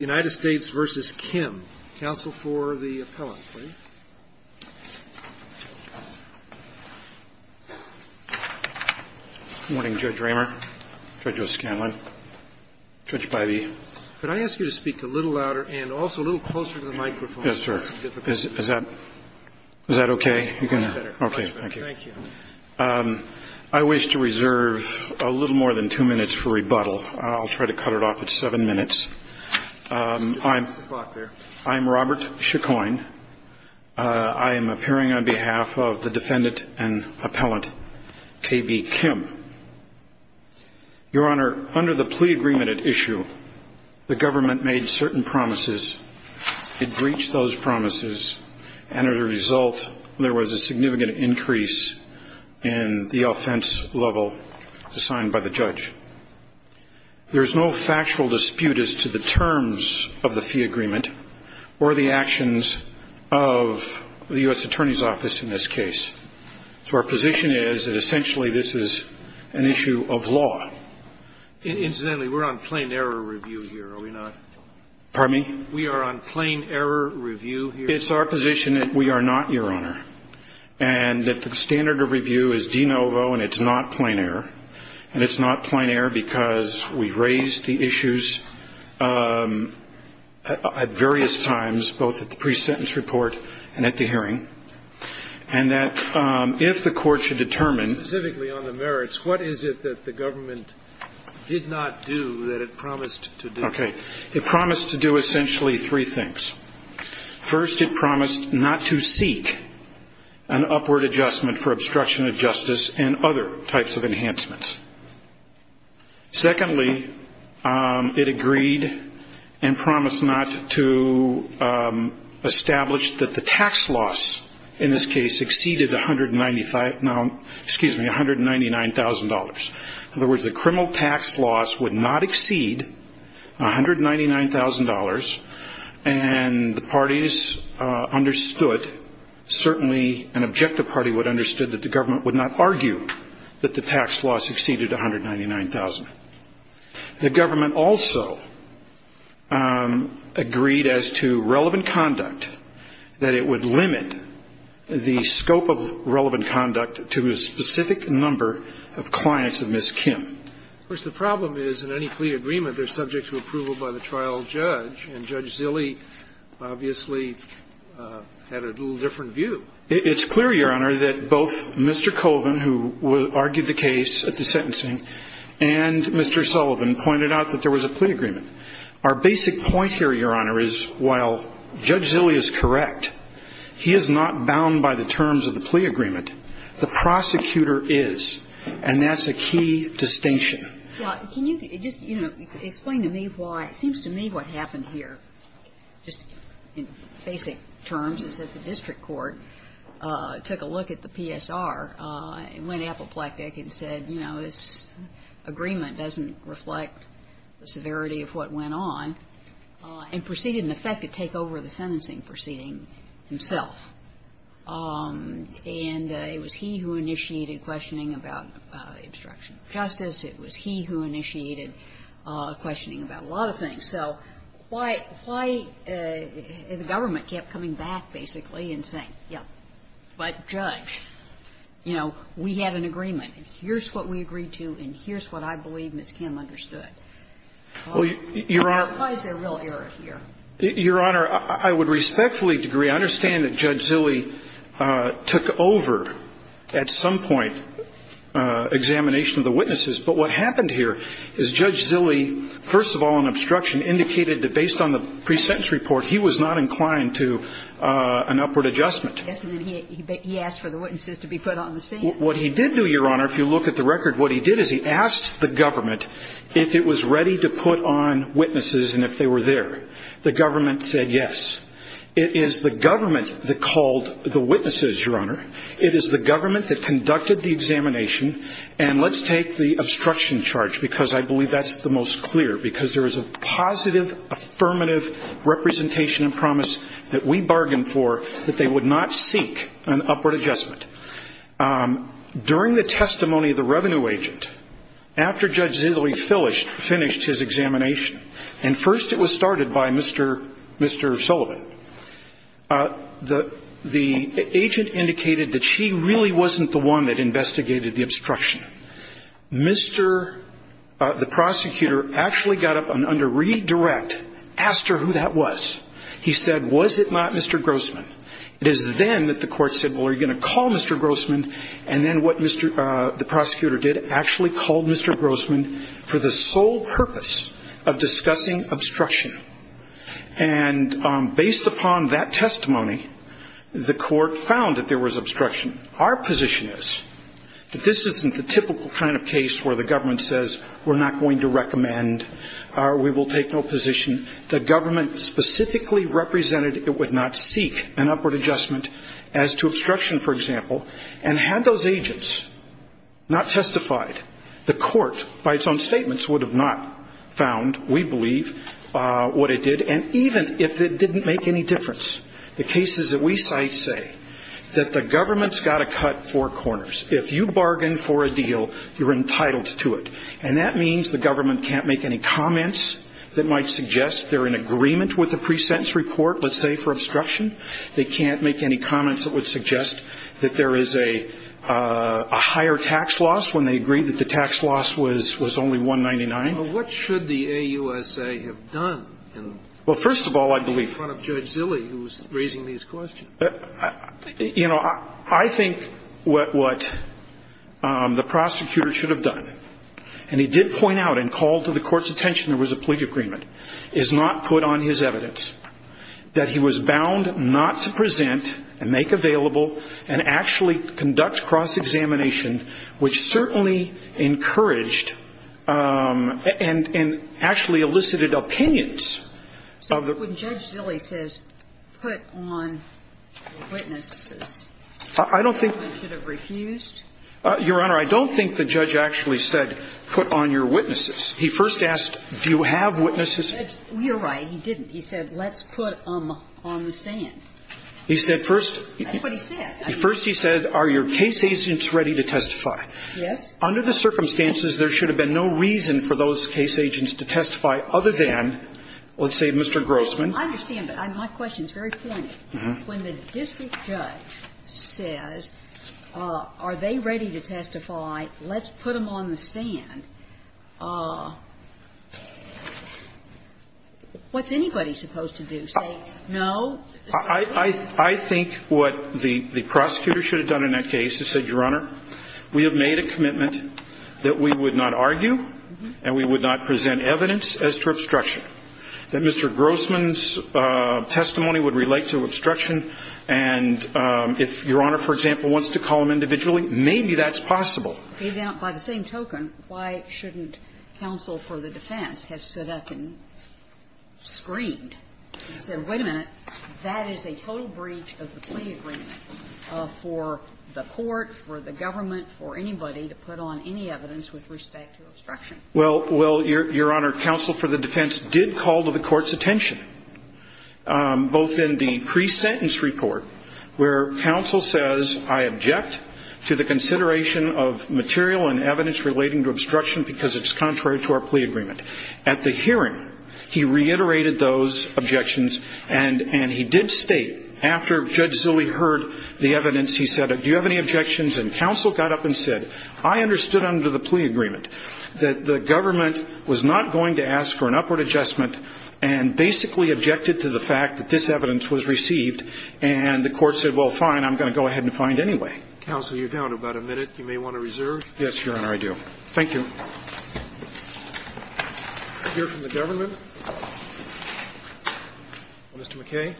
, counsel for the appellant, please. Good morning, Judge Raymer, Judge O'Scanlan, Judge Bivey. Could I ask you to speak a little louder and also a little closer to the microphone? Yes, sir. Is that okay? I wish to reserve a little more than two minutes for rebuttal. I'll try to cut it off at seven minutes. I'm Robert Chicoine. I am appearing on behalf of the defendant and appellant, K.B. Kim. Your Honor, under the plea agreement at issue, the government made certain promises. It breached those promises, and as a result, there was a significant increase in the offense level assigned by the judge. There is no factual dispute as to the terms of the fee agreement or the actions of the U.S. Attorney's Office in this case. So our position is that essentially this is an issue of law. Incidentally, we're on plain error review here, are we not? Pardon me? We are on plain error review here. It's our position that we are not, Your Honor, and that the standard of review is de novo and it's not plain error, and it's not plain error because we raised the issues at various times, both at the pre-sentence report and at the hearing, and that if the Court should determine the merits, what is it that the government did not do that it promised to do? Okay. It promised to do essentially three things. First, it promised not to seek an upward adjustment for obstruction of justice and other types of enhancements. Secondly, it agreed and promised not to establish that the tax loss in this case exceeded $199,000. In other words, the criminal tax loss would not exceed $199,000, and the parties understood, certainly an objective party would have understood, that the government would not argue that the tax loss exceeded $199,000. The government also agreed as to relevant conduct, that it would limit the scope of relevant conduct to a specific number of clients of Ms. Kim. Of course, the problem is in any plea agreement, they're subject to approval by the trial judge, and Judge Zille obviously had a little different view. It's clear, Your Honor, that both Mr. Colvin, who argued the case at the sentencing, and Mr. Sullivan pointed out that there was a plea agreement. Our basic point here, Your Honor, is while Judge Zille is correct, he is not bound by the terms of the plea agreement. The prosecutor is, and that's a key distinction. Now, can you just, you know, explain to me why, it seems to me what happened here, just in basic terms, is that the district court took a look at the PSR and went apoplectic and said, you know, this agreement doesn't reflect the severity of what went on, and proceeded, in effect, to take over the sentencing proceeding himself. And it was he who initiated questioning about obstruction of justice. It was he who initiated questioning about a lot of things. So why the government kept coming back, basically, and saying, yes, but, Judge, you know, we had an agreement, and here's what we agreed to, and here's what I believe Ms. Kim understood. Why is there real error here? Your Honor, I would respectfully agree. I understand that Judge Zille took over, at some point, examination of the witnesses. But what happened here is Judge Zille, first of all, in obstruction, indicated that based on the pre-sentence report, he was not inclined to an upward adjustment. Yes, and then he asked for the witnesses to be put on the stand. What he did do, Your Honor, if you look at the record, what he did is he asked the government if it was ready to put on witnesses and if they were there. The government said yes. It is the government that called the witnesses, Your Honor. It is the government that conducted the examination. And let's take the obstruction charge, because I believe that's the most clear, because there is a positive, affirmative representation and promise that we bargained for that they would not seek an upward adjustment. During the testimony of the revenue agent, after Judge Zille finished his examination, and first it was started by Mr. Sullivan, the agent indicated that she really wasn't the one that investigated the obstruction. Mr. the prosecutor actually got up and, under redirect, asked her who that was. He said, was it not Mr. Grossman? It is then that the court said, well, are you going to call Mr. Grossman? And then what the prosecutor did, actually called Mr. Grossman for the sole purpose of discussing obstruction. And based upon that testimony, the court found that there was obstruction. Our position is that this isn't the typical kind of case where the government says, we're not going to recommend, we will take no position. The government specifically represented it would not seek an upward adjustment as to obstruction, for example. And had those agents not testified, the court, by its own statements, would have not found, we believe, what it did. And even if it didn't make any difference, the cases that we cite say that the government's got to cut four corners. If you bargain for a deal, you're entitled to it. And that means the government can't make any comments that might suggest they're in agreement with the pre-sentence report, let's say, for obstruction. They can't make any comments that would suggest that there is a higher tax loss when they agreed that the tax loss was only 199. Well, what should the AUSA have done? Well, first of all, I believe. In front of Judge Zille, who was raising these questions. You know, I think what the prosecutor should have done, and he did point out and call to the Court's attention there was a plea agreement, is not put on his evidence that he was bound not to present and make available and actually conduct cross-examination, which certainly encouraged and actually elicited opinions of the court. And so I think the judge should have said, well, you know, let's put on witnesses. I don't think. The government should have refused. Your Honor, I don't think the judge actually said put on your witnesses. He first asked, do you have witnesses? You're right. He didn't. He said let's put them on the stand. He said first. That's what he said. First he said, are your case agents ready to testify? Yes. Under the circumstances, there should have been no reason for those case agents to testify other than, let's say, Mr. Grossman. I understand, but my question is very pointed. When the district judge says, are they ready to testify, let's put them on the stand, what's anybody supposed to do? Say no? I think what the prosecutor should have done in that case is said, Your Honor, we have made a commitment that we would not argue and we would not present evidence as to obstruction, that Mr. Grossman's testimony would relate to obstruction, and if Your Honor, for example, wants to call him individually, maybe that's possible. Even by the same token, why shouldn't counsel for the defense have stood up and screamed Wait a minute. That is a total breach of the plea agreement for the court, for the government, for anybody to put on any evidence with respect to obstruction. Well, Your Honor, counsel for the defense did call to the court's attention, both in the pre-sentence report where counsel says, I object to the consideration of material and evidence relating to obstruction because it's contrary to our plea agreement. At the hearing, he reiterated those objections and he did state, after Judge Zille heard the evidence, he said, do you have any objections? And counsel got up and said, I understood under the plea agreement that the government was not going to ask for an upward adjustment and basically objected to the fact that this evidence was received and the court said, well, fine, I'm going to go ahead and find anyway. Counsel, you're down to about a minute. You may want to reserve. Yes, Your Honor, I do. Thank you. We'll hear from the government. Mr. McKay.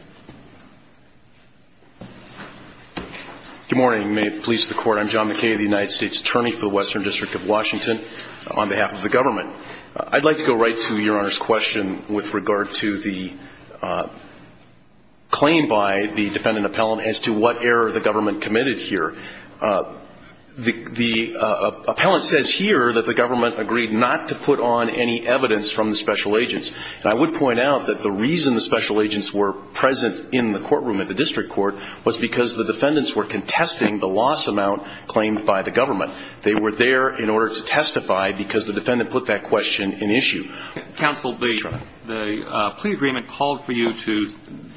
Good morning. May it please the Court. I'm John McKay, the United States Attorney for the Western District of Washington on behalf of the government. I'd like to go right to Your Honor's question with regard to the claim by the defendant appellant as to what error the government committed here. The appellant says here that the government agreed not to put on any evidence from the special agents. And I would point out that the reason the special agents were present in the courtroom at the district court was because the defendants were contesting the loss amount claimed by the government. They were there in order to testify because the defendant put that question in issue. Counsel, the plea agreement called for you to,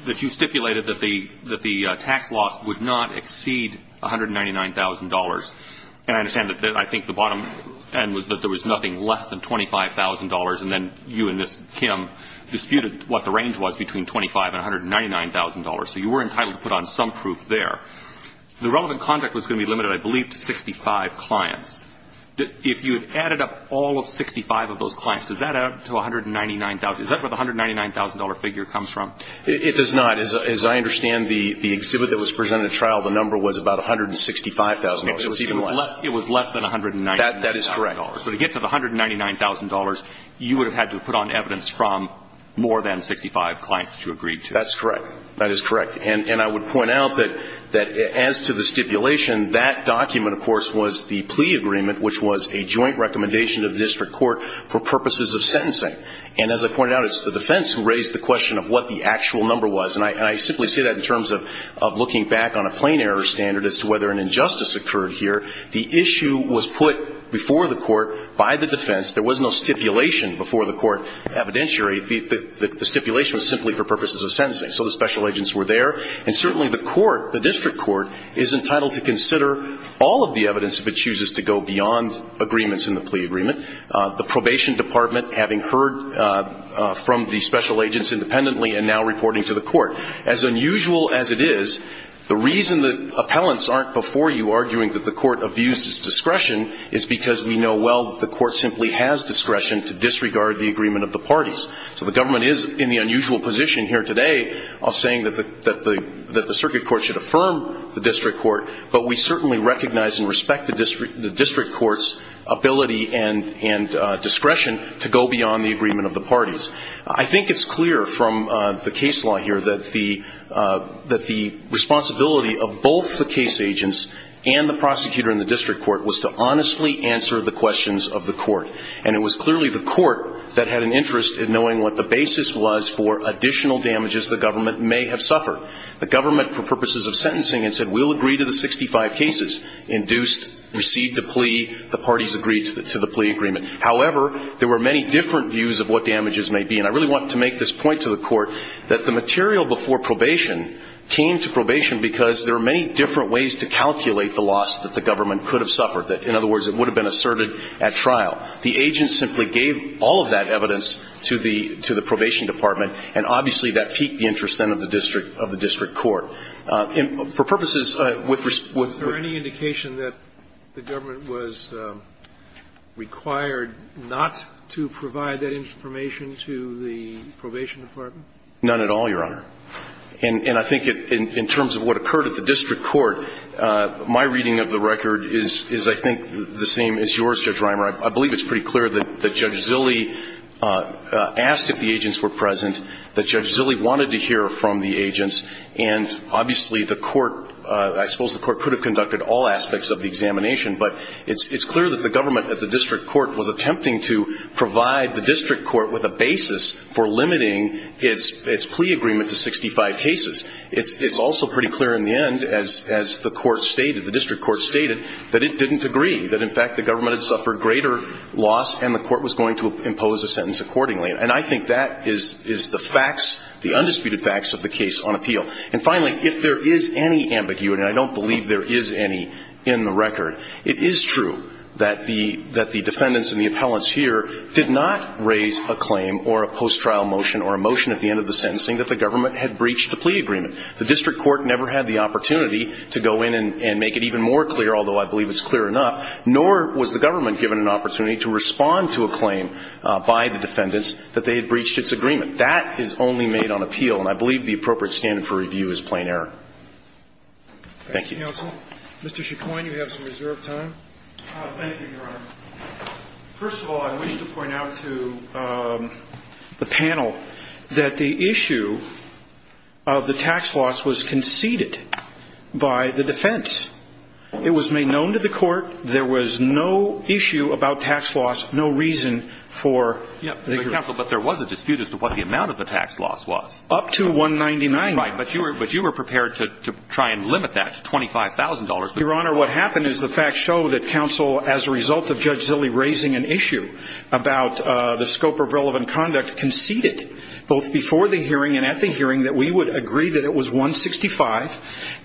that you stipulated that the tax loss would not exceed $199,000. And I understand that I think the bottom end was that there was nothing less than $25,000, and then you and this Kim disputed what the range was between $25,000 and $199,000. So you were entitled to put on some proof there. The relevant conduct was going to be limited, I believe, to 65 clients. If you had added up all of 65 of those clients, does that add up to $199,000? Is that where the $199,000 figure comes from? It does not. As I understand, the exhibit that was presented at trial, the number was about $165,000. It was even less. It was less than $199,000. That is correct. So to get to the $199,000, you would have had to have put on evidence from more than 65 clients that you agreed to. That's correct. That is correct. And I would point out that as to the stipulation, that document, of course, was the plea agreement, which was a joint recommendation of the district court for purposes of sentencing. And as I pointed out, it's the defense who raised the question of what the actual number was. And I simply say that in terms of looking back on a plain error standard as to whether an injustice occurred here. The issue was put before the court by the defense. There was no stipulation before the court evidentiary. The stipulation was simply for purposes of sentencing. So the special agents were there. And certainly the court, the district court, is entitled to consider all of the evidence if it chooses to go beyond agreements in the plea agreement. The probation department having heard from the special agents independently and now reporting to the court. As unusual as it is, the reason that appellants aren't before you arguing that the court abuses discretion is because we know well that the court simply has discretion to disregard the agreement of the parties. So the government is in the unusual position here today of saying that the circuit court should affirm the district court, but we certainly recognize and respect the district court's ability and discretion to go beyond the agreement of the parties. I think it's clear from the case law here that the responsibility of both the case agents and the prosecutor in the district court was to honestly answer the questions of the court. And it was clearly the court that had an interest in knowing what the basis was for additional damages the government may have suffered. The government, for purposes of sentencing, had said we'll agree to the 65 cases, induced, received the plea, the parties agreed to the plea agreement. However, there were many different views of what damages may be. And I really want to make this point to the court that the material before probation came to probation because there were many different ways to calculate the loss that the government could have suffered. In other words, it would have been asserted at trial. The agents simply gave all of that evidence to the probation department. And obviously, that piqued the interest, then, of the district court. And for purposes with respect to the court. Was there any indication that the government was required not to provide that information to the probation department? None at all, Your Honor. And I think in terms of what occurred at the district court, my reading of the record is, I think, the same as yours, Judge Reimer. I believe it's pretty clear that Judge Zille asked if the agents were present, that Judge Zille wanted to hear from the agents. And obviously, the court, I suppose the court could have conducted all aspects of the examination. But it's clear that the government at the district court was attempting to provide the district court with a basis for limiting its plea agreement to 65 cases. It's also pretty clear in the end, as the court stated, the district court stated, that it didn't agree. That, in fact, the government had suffered greater loss and the court was going to impose a sentence accordingly. And I think that is the facts, the undisputed facts of the case on appeal. And finally, if there is any ambiguity, and I don't believe there is any in the record, it is true that the defendants and the appellants here did not raise a claim or a post-trial motion or a motion at the end of the sentencing that the government had breached the plea agreement. The district court never had the opportunity to go in and make it even more clear, although I believe it's clear enough, nor was the government given an opportunity to respond to a claim by the defendants that they had breached its agreement. That is only made on appeal. And I believe the appropriate standard for review is plain error. Thank you. Thank you, counsel. Mr. Chicoine, you have some reserved time. Thank you, Your Honor. First of all, I wish to point out to the panel that the issue of the tax loss was conceded by the defense. It was made known to the court. There was no issue about tax loss, no reason for the hearing. But, counsel, there was a dispute as to what the amount of the tax loss was. Up to $199,000. Right. But you were prepared to try and limit that to $25,000. Your Honor, what happened is the facts show that counsel, as a result of Judge Zille raising an issue about the scope of relevant conduct, conceded both before the hearing and at the hearing that we would agree that it was $165,000.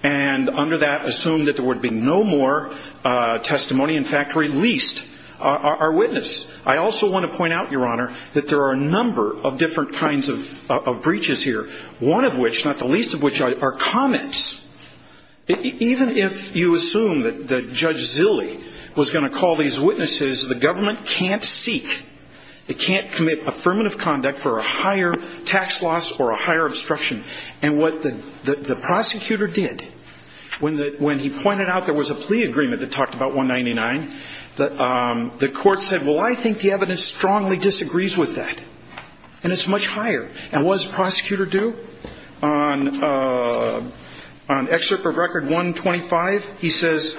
And under that, assumed that there would be no more testimony. In fact, released our witness. I also want to point out, Your Honor, that there are a number of different kinds of breaches here. One of which, not the least of which, are comments. Even if you assume that Judge Zille was going to call these witnesses, the government can't seek, it can't commit affirmative conduct for a higher tax loss or a higher obstruction. And what the prosecutor did, when he pointed out there was a plea agreement that talked about $199,000, the court said, well, I think the evidence strongly disagrees with that. And it's much higher. And what does the prosecutor do? On Excerpt of Record 125, he says,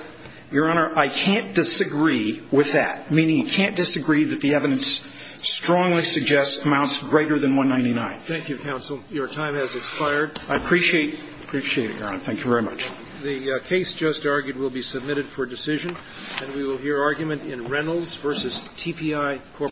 Your Honor, I can't disagree with that. Meaning he can't disagree that the evidence strongly suggests amounts greater than $199,000. Thank you, counsel. Your time has expired. I appreciate it. I appreciate it, Your Honor. Thank you very much. The case just argued will be submitted for decision. And we will hear argument in Reynolds v. TPI.